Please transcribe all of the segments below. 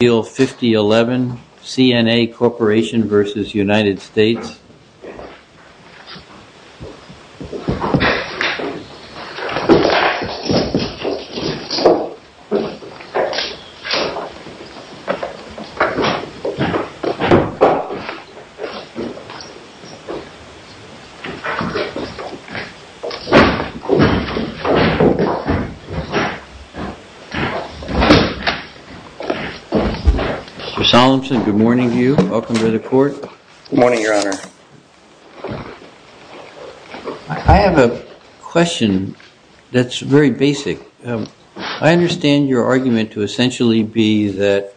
Bill 5011, CNA Corporation v. United States Mr. Solemson, good morning to you. Welcome to the court. Good morning, your honor. I have a question that's very basic. I understand your argument to essentially be that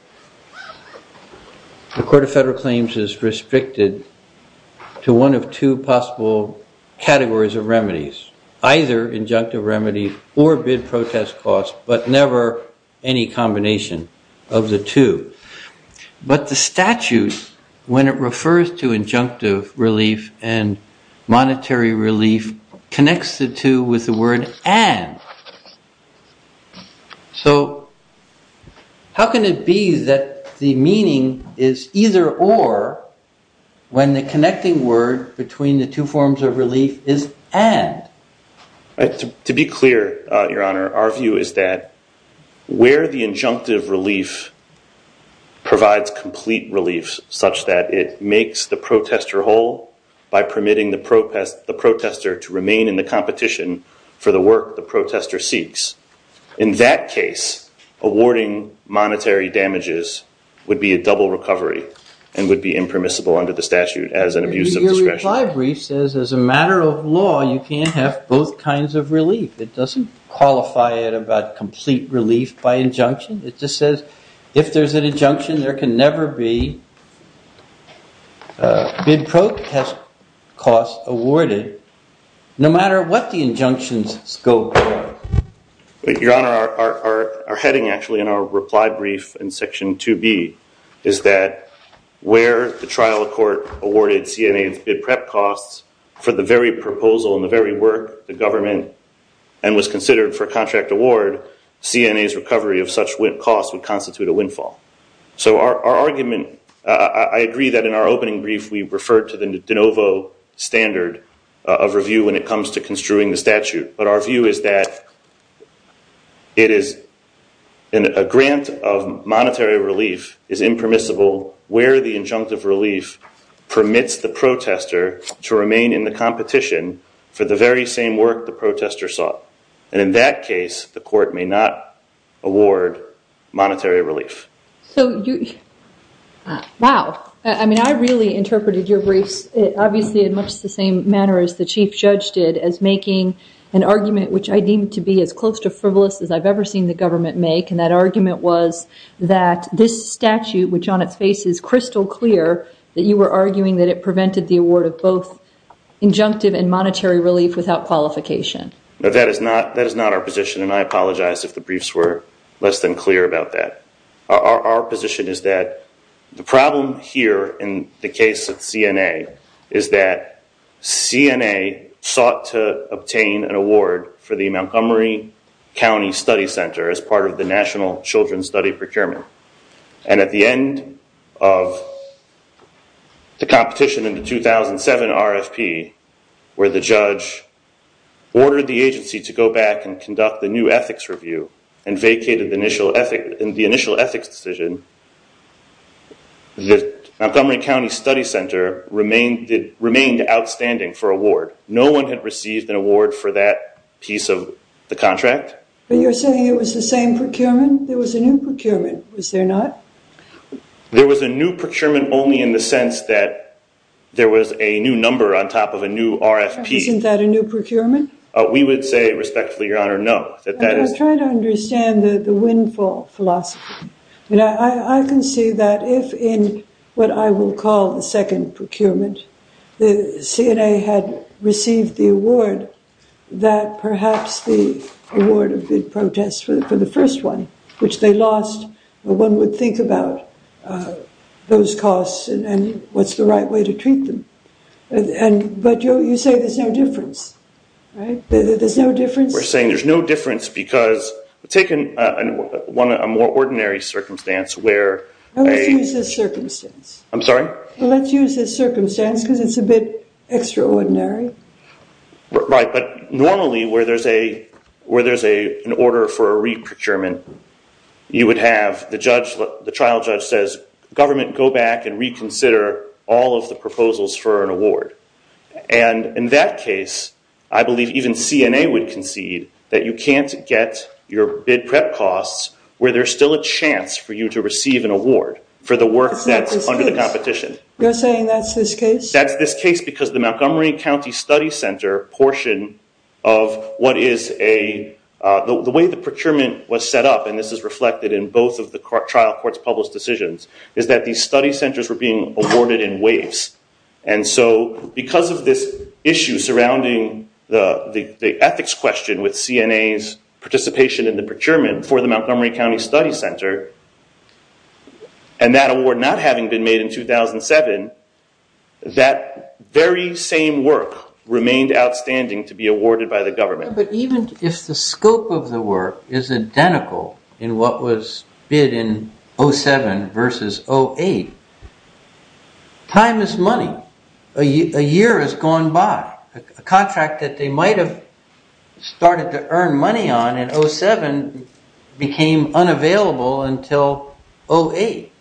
the Court of Federal Claims is restricted to one of two possible categories of remedies, either injunctive remedy or bid protest costs, but never any combination of the two. But the statute, when it refers to injunctive relief and monetary relief, connects the two with the word and. So how can it be that the meaning is either or when the connecting word between the two forms of relief is and? To be clear, your honor, our view is that where the injunctive relief provides complete relief such that it makes the protester whole by permitting the protester to remain in the competition for the work the protester seeks. In that case, awarding monetary damages would be a double recovery and would be impermissible under the statute as an abuse of discretion. The reply brief says, as a matter of law, you can't have both kinds of relief. It doesn't qualify it about complete relief by injunction. It just says, if there's an injunction, there can never be bid protest costs awarded, no matter what the injunction's scope. Your honor, our heading actually in our reply brief in Section 2B is that where the trial court awarded CNA's bid prep costs for the very proposal and the very work the government and was considered for contract award, CNA's recovery of such costs would constitute a windfall. So our argument, I agree that in our opening brief we referred to the de novo standard of review when it comes to construing the statute. But our view is that a grant of monetary relief is impermissible where the injunctive relief permits the protester to remain in the competition for the very same work the protester sought. And in that case, the court may not award monetary relief. Wow. I mean, I really interpreted your briefs obviously in much the same manner as the most frivolous as I've ever seen the government make. And that argument was that this statute, which on its face is crystal clear, that you were arguing that it prevented the award of both injunctive and monetary relief without qualification. That is not our position. And I apologize if the briefs were less than clear about that. Our position is that the problem here in the case of CNA is that CNA sought to obtain an award for the Montgomery County Study Center as part of the National Children's Study Procurement. And at the end of the competition in the 2007 RFP where the judge ordered the agency to go back and conduct the new ethics review and vacated the initial ethics decision, the Montgomery County Study Center remained outstanding for award. No one had received an award for that piece of the contract. But you're saying it was the same procurement? There was a new procurement, was there not? There was a new procurement only in the sense that there was a new number on top of a new RFP. Isn't that a new procurement? We would say respectfully, Your Honor, no. I was trying to understand the windfall philosophy. I can see that if in what I will call the second procurement, the CNA had received the award, that perhaps the award of bid protest for the first one, which they lost, one would think about those costs and what's the right way to treat them. But you say there's no difference, right? There's no difference? We're saying there's no difference because take a more ordinary circumstance where... Let's use this circumstance because it's a bit extraordinary. Right, but normally where there's an order for a re-procurement, you would have the trial judge say, Government, go back and reconsider all of the proposals for an award. And in that case, I believe even CNA would concede that you can't get your bid prep costs where there's still a chance for you to receive an award for the work that's under the competition. You're saying that's this case? That's this case because the Montgomery County Study Center portion of what is a... was set up, and this is reflected in both of the trial court's published decisions, is that these study centers were being awarded in waves. And so because of this issue surrounding the ethics question with CNA's participation in the procurement for the Montgomery County Study Center, and that award not having been made in 2007, that very same work remained outstanding to be awarded by the government. But even if the scope of the work is identical in what was bid in 07 versus 08, time is money. A year has gone by. A contract that they might have started to earn money on in 07 became unavailable until 08.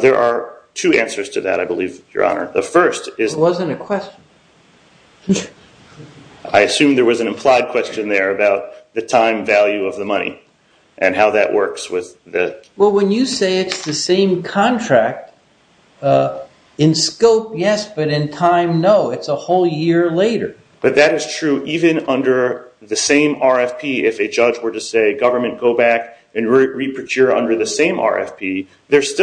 There are two answers to that, I believe, Your Honor. The first is... It wasn't a question. I assume there was an implied question there about the time value of the money and how that works with the... Well, when you say it's the same contract, in scope, yes, but in time, no. It's a whole year later. But that is true even under the same RFP. There's still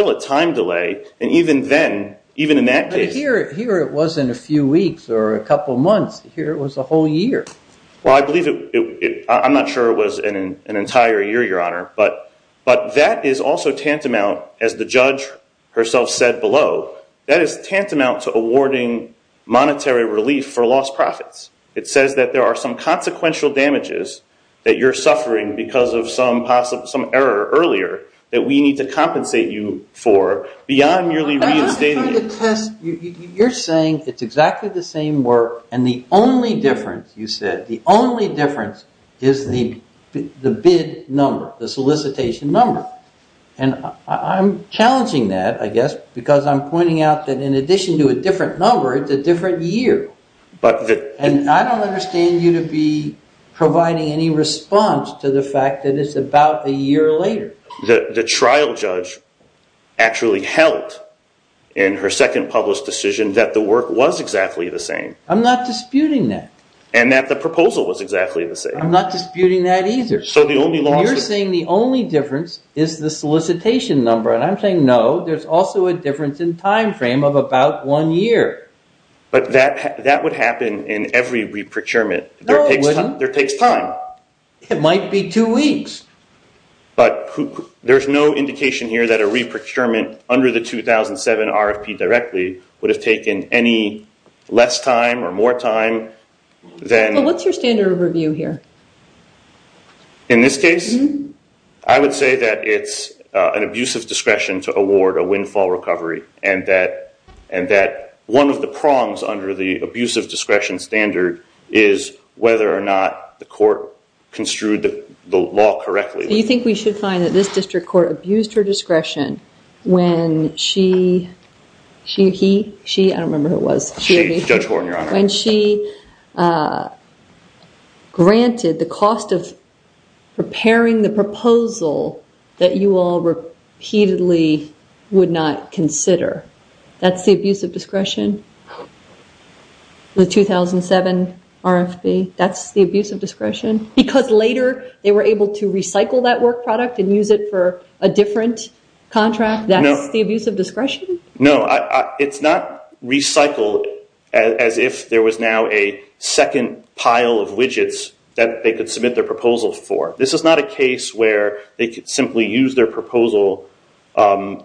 a time delay, and even then, even in that case... Here it wasn't a few weeks or a couple months. Here it was a whole year. I'm not sure it was an entire year, Your Honor, but that is also tantamount, as the judge herself said below, that is tantamount to awarding monetary relief for lost profits. It says that there are some consequential damages that you're suffering because of some error earlier that we need to compensate you for beyond merely reinstating it. You're saying it's exactly the same work and the only difference, you said, the only difference is the bid number, the solicitation number. I'm challenging that, I guess, because I'm pointing out that in addition to a different number, it's a different year. And I don't understand you to be providing any response to the fact that it's about a year later. The trial judge actually held, in her second published decision, that the work was exactly the same. I'm not disputing that. And that the proposal was exactly the same. I'm not disputing that either. You're saying the only difference is the solicitation number. And I'm saying, no, there's also a difference in time frame of about one year. But that would happen in every re-procurement. No, it wouldn't. There takes time. It might be two weeks. But there's no indication here that a re-procurement under the 2007 RFP directly would have taken any less time or more time than... Well, what's your standard of review here? In this case, I would say that it's an abuse of discretion to award a windfall recovery. And that one of the prongs under the abuse of discretion standard is whether or not the court construed the law correctly. Do you think we should find that this district court abused her discretion when she, he, she, I don't remember who it was. Judge Horton, Your Honor. When she granted the cost of preparing the proposal that you all repeatedly would not consider. That's the abuse of discretion? The 2007 RFP, that's the abuse of discretion? Because later they were able to recycle that work product and use it for a different contract? That's the abuse of discretion? No, it's not recycled as if there was now a second pile of widgets that they could submit their proposal for. This is not a case where they could simply use their proposal and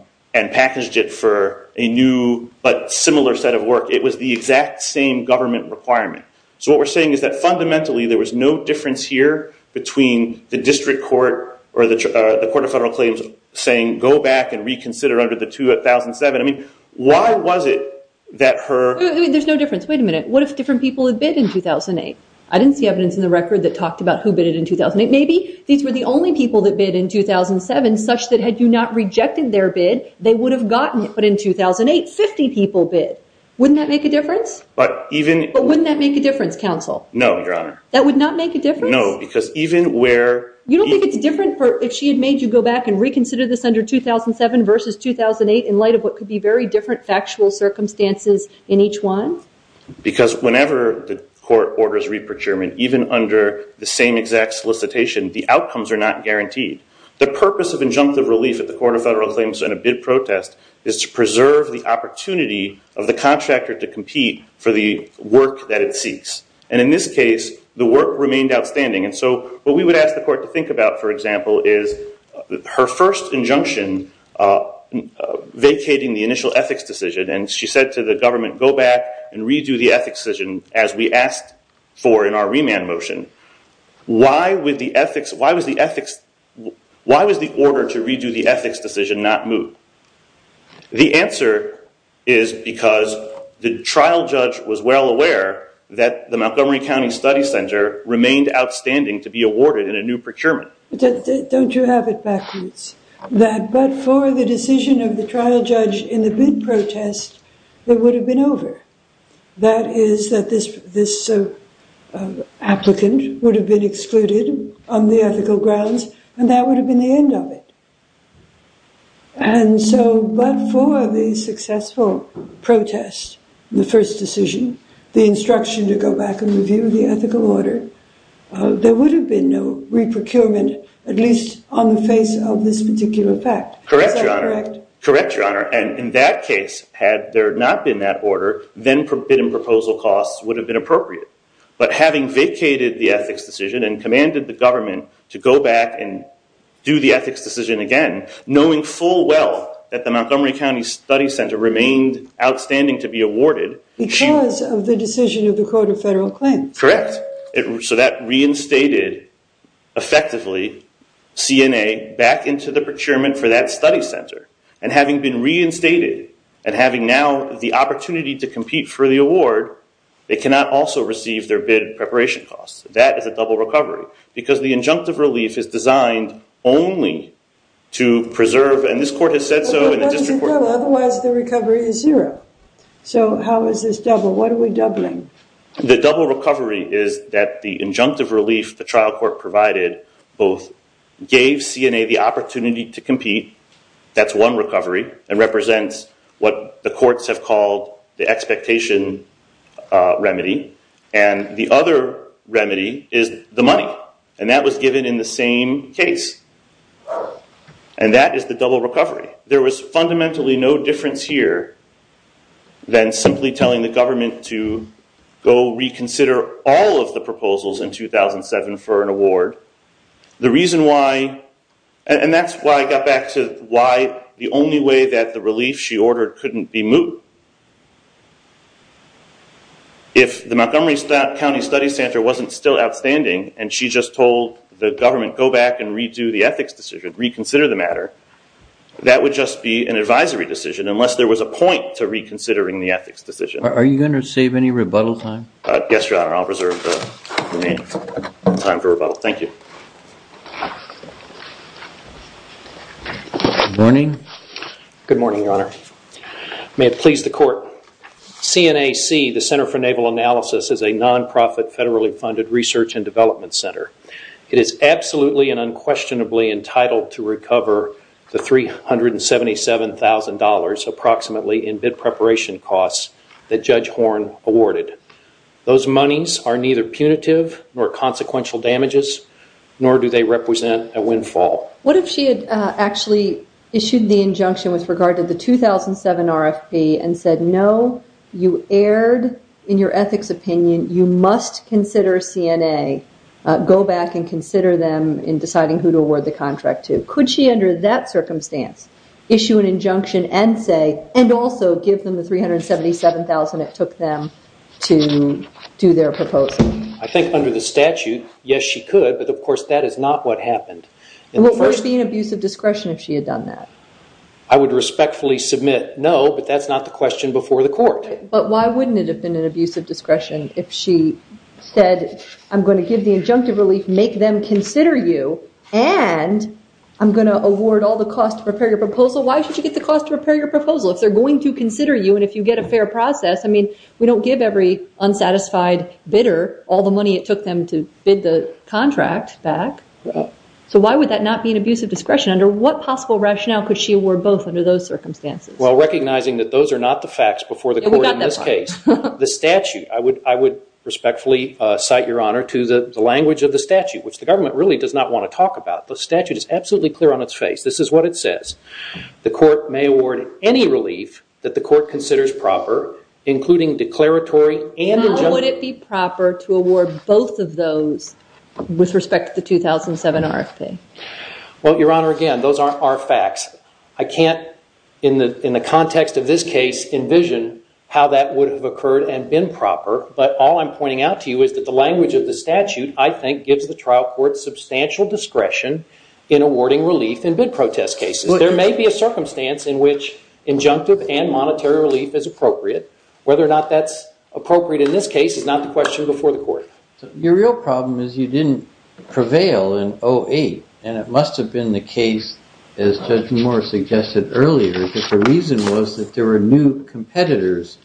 package it for a new but similar set of work. It was the exact same government requirement. So what we're saying is that fundamentally there was no difference here between the district court or the court of federal claims saying go back and reconsider under the 2007. I mean, why was it that her? There's no difference. Wait a minute. What if different people had bid in 2008? I didn't see evidence in the record that talked about who bid in 2008. Maybe these were the only people that bid in 2007 such that had you not rejected their bid they would have gotten it. But in 2008, 50 people bid. Wouldn't that make a difference? But wouldn't that make a difference, counsel? No, your honor. That would not make a difference? No, because even where... You don't think it's different if she had made you go back and reconsider this under 2007 versus 2008 in light of what could be very different factual circumstances in each one? Because whenever the court orders re-procurement, even under the same exact solicitation, the outcomes are not guaranteed. The purpose of injunctive relief at the court of federal claims and a bid protest is to preserve the opportunity of the contractor to compete for the work that it seeks. And in this case, the work remained outstanding. And so what we would ask the court to think about, for example, is her first injunction vacating the initial ethics decision. And she said to the government, go back and redo the ethics decision as we asked for in our remand motion. Why was the order to redo the ethics decision not moved? The answer is because the trial judge was well aware that the Montgomery County Study Center remained outstanding to be awarded in a new procurement. Don't you have it backwards? But for the decision of the trial judge in the bid protest, it would have been over. That is, that this applicant would have been excluded on the ethical grounds, and that would have been the end of it. And so, but for the successful protest, the first decision, the instruction to go back and review the ethical order, there would have been no re-procurement, at least on the face of this particular fact. Correct, Your Honor. Correct, Your Honor. And in that case, had there not been that order, then forbidden proposal costs would have been appropriate. But having vacated the ethics decision and commanded the government to go back and do the ethics decision again, knowing full well that the Montgomery County Study Center remained outstanding to be awarded. Because of the decision of the Code of Federal Claims. Correct. So that reinstated effectively CNA back into the procurement for that study center. And having been reinstated, and having now the opportunity to compete for the award, they cannot also receive their bid preparation costs. That is a double recovery. Because the injunctive relief is designed only to preserve, and this court has said so in the district court. Otherwise the recovery is zero. So how is this double? So what are we doubling? The double recovery is that the injunctive relief the trial court provided both gave CNA the opportunity to compete, that's one recovery, and represents what the courts have called the expectation remedy. And the other remedy is the money. And that was given in the same case. And that is the double recovery. There was fundamentally no difference here than simply telling the government to go reconsider all of the proposals in 2007 for an award. The reason why, and that's why I got back to why the only way that the relief she ordered couldn't be moved. If the Montgomery County Study Center wasn't still outstanding and she just told the government go back and redo the ethics decision, reconsider the matter, that would just be an advisory decision unless there was a point to reconsidering the ethics decision. Are you going to save any rebuttal time? Yes, your honor, I'll reserve the remaining time for rebuttal. Thank you. Good morning, your honor. May it please the court. CNAC, the Center for Naval Analysis, is a non-profit, federally funded research and development center. It is absolutely and unquestionably entitled to recover the $377,000 approximately in bid preparation costs that Judge Horn awarded. Those monies are neither punitive nor consequential damages, nor do they represent a windfall. What if she had actually issued the injunction with regard to the 2007 RFP and said no, you erred in your ethics opinion, you must consider CNA, go back and consider them in deciding who to award the contract to. Could she under that circumstance issue an injunction and say, and also give them the $377,000 it took them to do their proposal? I think under the statute, yes she could, but of course that is not what happened. Would there be an abuse of discretion if she had done that? I would respectfully submit no, but that's not the question before the court. But why wouldn't it have been an abuse of discretion if she said, I'm going to give the injunctive relief, make them consider you, and I'm going to award all the costs to prepare your proposal. Why should you get the cost to prepare your proposal if they're going to consider you and if you get a fair process, I mean, we don't give every unsatisfied bidder all the money it took them to bid the contract back. So why would that not be an abuse of discretion? Under what possible rationale could she award both under those circumstances? Well, recognizing that those are not the facts before the court in this case. The statute, I would respectfully cite your honor to the language of the statute, which the government really does not want to talk about. The statute is absolutely clear on its face. This is what it says. The court may award any relief that the court considers proper, including declaratory and injunctive. How would it be proper to award both of those with respect to the 2007 RFP? Well, your honor, again, those aren't our facts. I can't, in the context of this case, envision how that would have occurred and been proper. But all I'm pointing out to you is that the language of the statute, I think, gives the trial court substantial discretion in awarding relief in bid protest cases. There may be a circumstance in which injunctive and monetary relief is appropriate. Whether or not that's appropriate in this case is not the question before the court. Your real problem is you didn't prevail in 08, and it must have been the case as Judge Moore suggested earlier, that the reason was that there were new competitors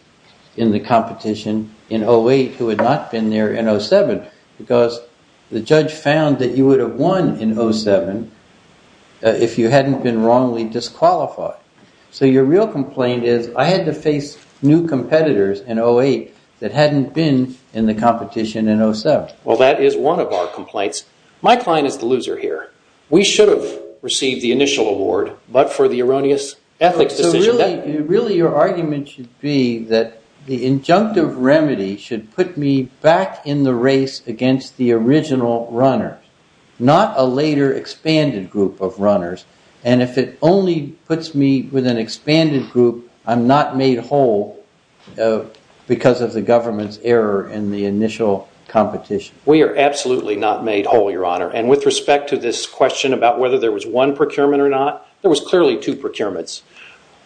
in the competition in 08 who had not been there in 07, because the judge found that you would have won in 07 if you hadn't been wrongly disqualified. So your real complaint is I had to face new competitors in 08 that hadn't been in the competition in 07. Well, that is one of our complaints. My client is the loser here. We should have received the initial award, but for the erroneous ethics decision. Really, your argument should be that the injunctive remedy should put me back in the race against the original runners, not a later expanded group of runners. And if it only puts me with an expanded group, I'm not made whole because of the government's error in the initial competition. We are not. There was clearly two procurements.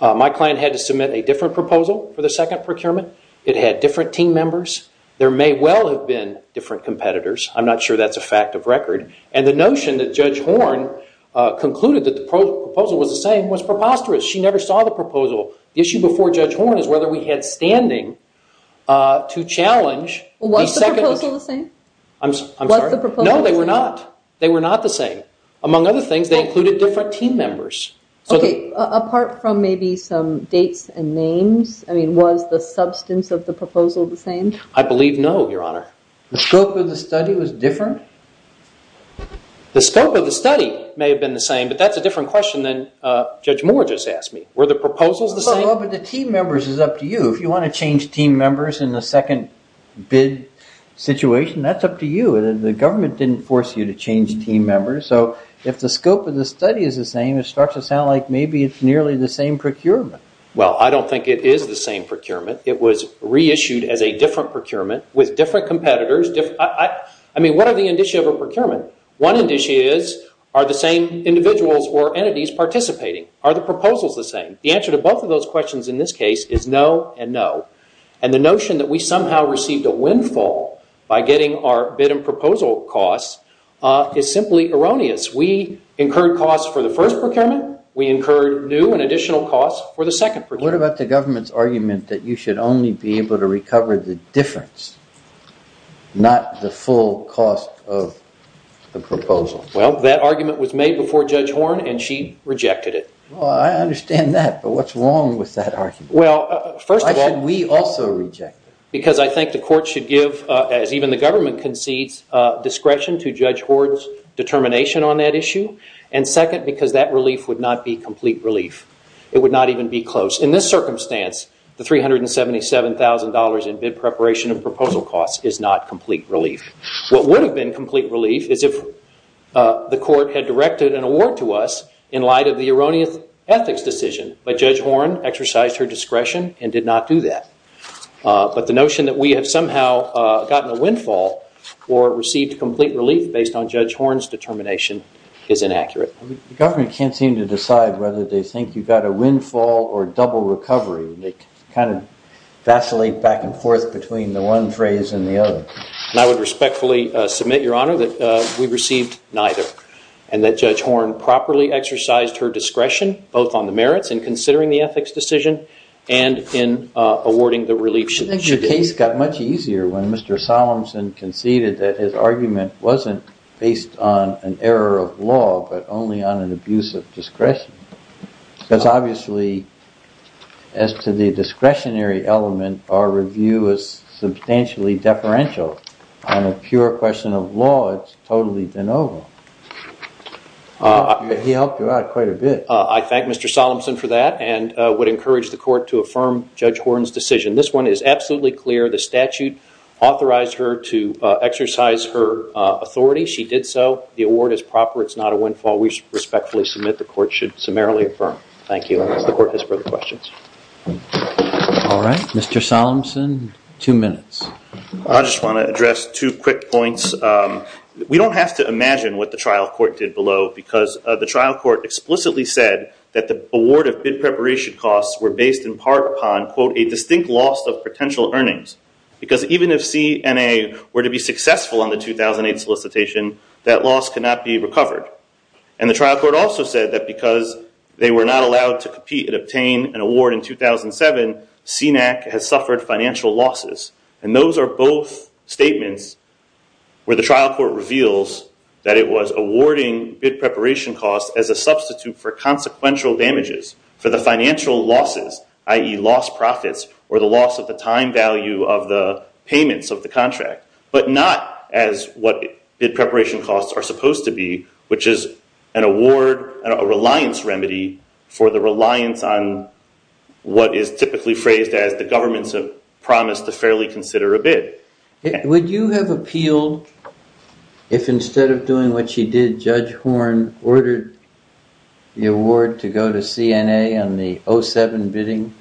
My client had to submit a different proposal for the second procurement. It had different team members. There may well have been different competitors. I'm not sure that's a fact of record. And the notion that Judge Horne concluded that the proposal was the same was preposterous. She never saw the proposal. The issue before Judge Horne is whether we had standing to challenge... Was the proposal the same? No, they were not. They were not the same. Among other things, they included different team members. Okay, apart from maybe some dates and names, was the substance of the proposal the same? I believe no, Your Honor. The scope of the study was different? The scope of the study may have been the same, but that's a different question than Judge Moore just asked me. Were the proposals the same? Well, the team members is up to you. If you want to change team members in the second bid situation, that's up to you. The government didn't force you to change team members, so if the scope of the study is the same, it starts to sound like maybe it's nearly the same procurement. Well, I don't think it is the same procurement. It was reissued as a different procurement with different competitors. I mean, what are the indicia of a procurement? One indicia is, are the same individuals or entities participating? Are the proposals the same? The answer to both of those questions in this case is no and no. And the notion that we somehow received a windfall by getting our bid and proposal costs is simply erroneous. We incurred costs for the first procurement. We incurred new and additional costs for the second procurement. What about the government's argument that you should only be able to recover the difference, not the full cost of the proposal? Well, that argument was made before Judge Horne and she rejected it. Well, I understand that, but what's wrong with that argument? Why should we also reject it? Because I think the court should give, as even the government concedes, discretion to Judge Horne's determination on that issue. And second, because that relief would not be complete relief. It would not even be close. In this circumstance, the $377,000 in bid preparation and proposal costs is not complete relief. What would have been complete relief is if the court had directed an award to us in light of the erroneous ethics decision, but Judge Horne exercised her discretion and did not do that. But the notion that we have somehow gotten a windfall or received complete relief based on Judge Horne's determination is inaccurate. The government can't seem to decide whether they can kind of vacillate back and forth between the one phrase and the other. And I would respectfully submit, Your Honor, that we received neither and that Judge Horne properly exercised her discretion, both on the merits in considering the ethics decision and in awarding the relief she did. The case got much easier when Mr. Solemson conceded that his argument wasn't based on an error of law, but only on an abuse of discretion. Because obviously, as to the discretionary element, our review is substantially deferential. On a pure question of law, it's totally de novo. He helped her out quite a bit. I thank Mr. Solemson for that and would encourage the court to affirm Judge Horne's decision. This one is absolutely clear. The statute authorized her to exercise her authority. She did so. The award is proper. It's not a windfall. We respectfully submit the court should summarily affirm. Thank you. Unless the court has further questions. All right. Mr. Solemson, two minutes. I just want to address two quick points. We don't have to imagine what the trial court did below because the trial court explicitly said that the award of bid preparation costs were based in part upon a distinct loss of potential earnings. Because even if CNA were to be successful on the 2008 solicitation, that loss cannot be recovered. The trial court also said that because they were not allowed to compete and obtain an award in 2007, CNAC has suffered financial losses. Those are both statements where the trial court reveals that it was awarding bid preparation costs as a loss of profits or the loss of the time value of the payments of the contract, but not as what bid preparation costs are supposed to be, which is an award and a reliance remedy for the reliance on what is typically phrased as the government's promise to fairly consider a bid. Would you have appealed if instead of doing what she did, Judge Horne ordered the award to go to CNA on the 07 bidding?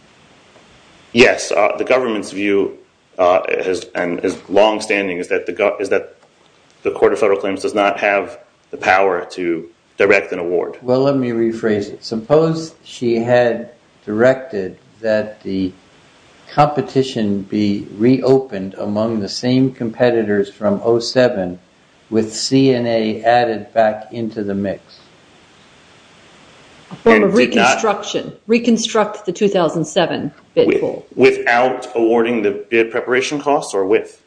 Yes. The government's view is longstanding is that the Court of Federal Claims does not have the power to direct an award. Well, let me rephrase it. Suppose she had directed that the competition be reopened among the same competitors from 2007 with CNA added back into the mix. A form of reconstruction. Reconstruct the 2007 bid pool. Without awarding the bid preparation costs or with?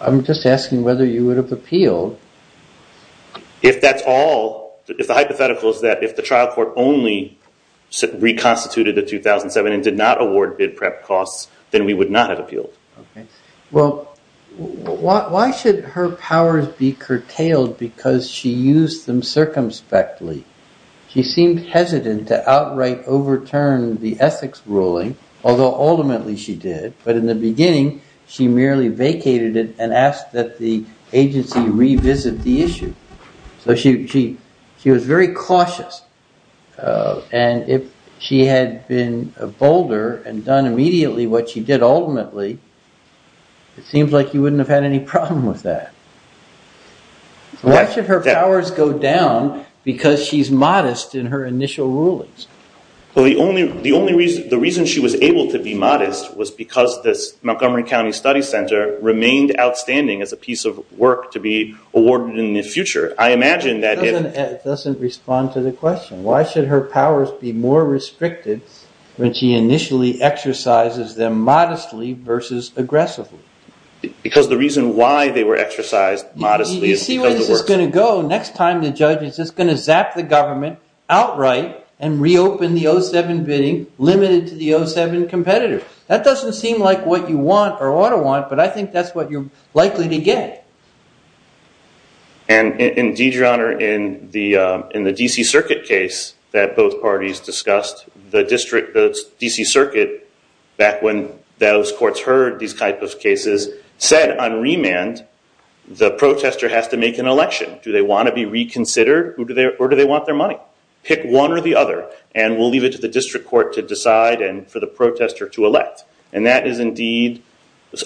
I'm just asking whether you would have appealed. If that's all, if the hypothetical is that if the trial court only reconstituted the 2007 and did not award bid prep costs, then we would not have appealed. Why should her powers be curtailed because she used them circumspectly? She seemed hesitant to outright overturn the ethics ruling, although ultimately she did, but in the beginning she merely vacated it and asked that the agency revisit the issue. She was very cautious. If she had been bolder and done immediately what she did ultimately, it seems like you wouldn't have had any problem with that. Why should her powers go down because she's modest in her initial rulings? The only reason she was able to be modest was because this doesn't respond to the question. Why should her powers be more restricted when she initially exercises them modestly versus aggressively? Because the reason why they were exercised modestly is because it works. Next time the judge is just going to zap the government outright and reopen the 2007 bidding limited to the 2007 competitors. That doesn't seem like what you want or ought to want, but I think that's what you're likely to get. In the D.C. Circuit case that both parties discussed, the D.C. Circuit, back when those courts heard these types of cases, said on remand the protester has to make an election. Do they want to be reconsidered or do they want their money? Pick one or the other and we'll leave it to the district court to decide and for the protester to elect. And that is indeed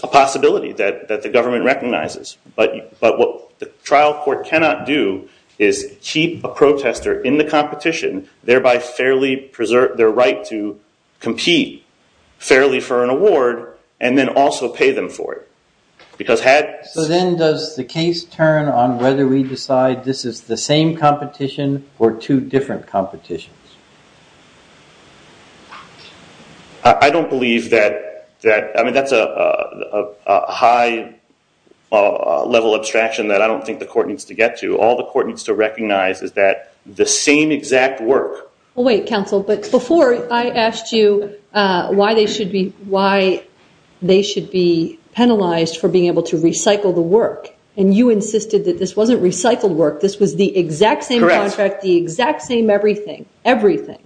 a possibility that the government recognizes. But what the trial court cannot do is keep a protester in the competition, thereby fairly preserve their right to compete fairly for an award and then also pay them for it. So then does the case turn on whether we decide this is the same competition or two different competitions? I don't believe that. I mean, that's a high level abstraction that I don't think the court needs to get to. All the court needs to recognize is that the same exact work. Wait, counsel, but before I asked you why they should be penalized for being able to recycle the work and you insisted that this wasn't recycled work, this was the exact same contract, the exact same everything. Everything.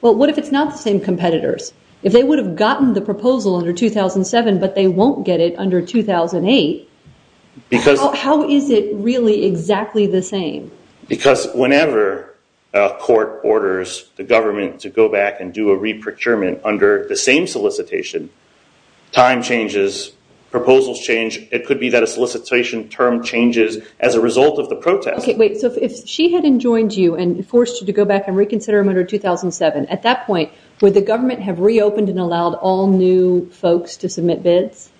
Well, what if it's not the same competitors? If they would have gotten the proposal under 2007 but they won't get it under 2008, how is it really exactly the same? Because whenever a court orders the government to go back and do a re-procurement under the same solicitation, time changes, proposals change. It could be that a solicitation term changes as a result of the protest. Okay, wait. So if she hadn't joined you and forced you to go back and reconsider them under 2007, at that point, would the government have reopened and allowed all new folks to submit bids?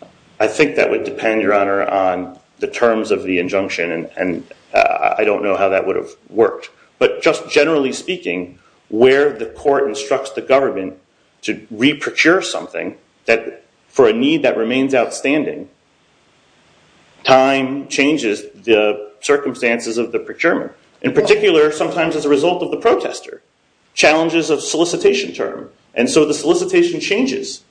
I think that would depend, Your Honor, on the terms of the injunction and I don't know how that would have worked. But just to procure something for a need that remains outstanding, time changes the circumstances of the procurement. In particular, sometimes as a result of the protester. Challenges of solicitation term and so the solicitation changes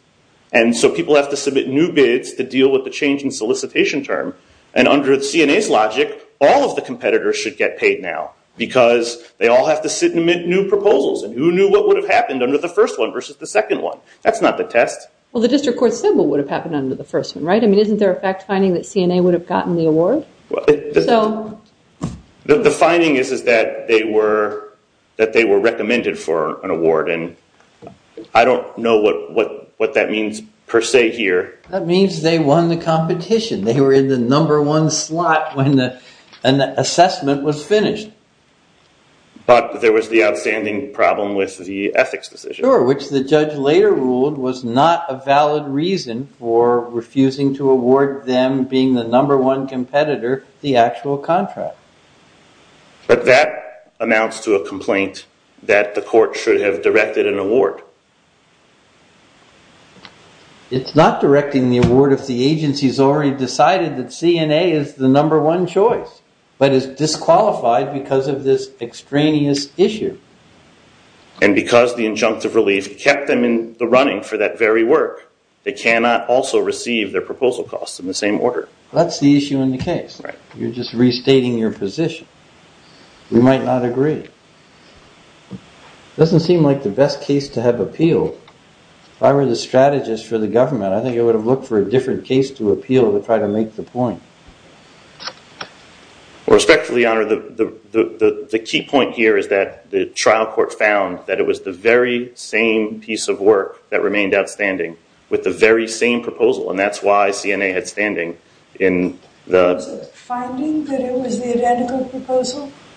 and so people have to submit new bids to deal with the change in solicitation term and under the CNA's logic, all of the competitors should get paid now because they all have to submit new proposals and who knew what would have happened under the first one versus the second one? That's not the test. Well, the district court symbol would have happened under the first one, right? I mean, isn't there a fact-finding that CNA would have gotten the award? The finding is that they were recommended for an award and I don't know what that means per se here. That means they won the competition. They were in the number one slot when the assessment was finished. But there was the outstanding problem with the ethics decision. Sure, which the judge later ruled was not a valid reason for refusing to award them being the number one competitor the actual contract. But that amounts to a complaint that the court should have directed an award. It's not directing the award if the agency has already decided that CNA is the number one choice but is disqualified because of this extraneous issue. And because the injunctive relief kept them in the running for that very work, they cannot also receive their proposal costs in the same order. That's the issue in the case. You're just restating your position. We might not agree. It doesn't seem like the best case to have appealed. If I were the strategist for the government, I think I would have looked for a different case to appeal to try to make the point. The key point here is that the trial court found that it was the very same piece of work that remained outstanding with the very same proposal and that's why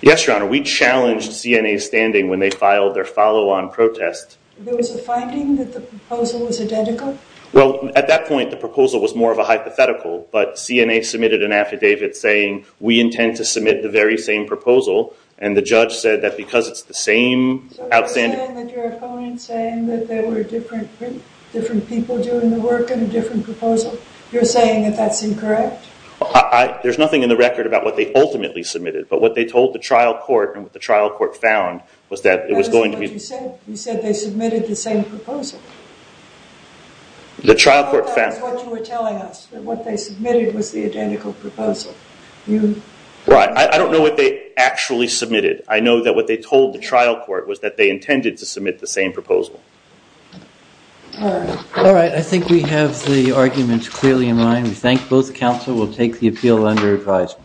Yes, Your Honor. We challenged CNA's standing when they filed their follow-on protest. There was a finding that the proposal was identical? Well, at that point the proposal was more of a hypothetical. But CNA submitted an affidavit saying we intend to submit the very same proposal. And the judge said that because it's the same outstanding So you're saying that your opponent's saying that there were different people doing the work in a different But what they told the trial court and what the trial court found was that it was going to be You said they submitted the same proposal. I thought that was what you were telling us, that what they submitted was the identical proposal. Right. I don't know what they actually submitted. I know that what they told the trial court was that they intended to submit the same proposal. All right. I think we have the arguments clearly in mind. We thank both counsel. We'll take the appeal under appraisal.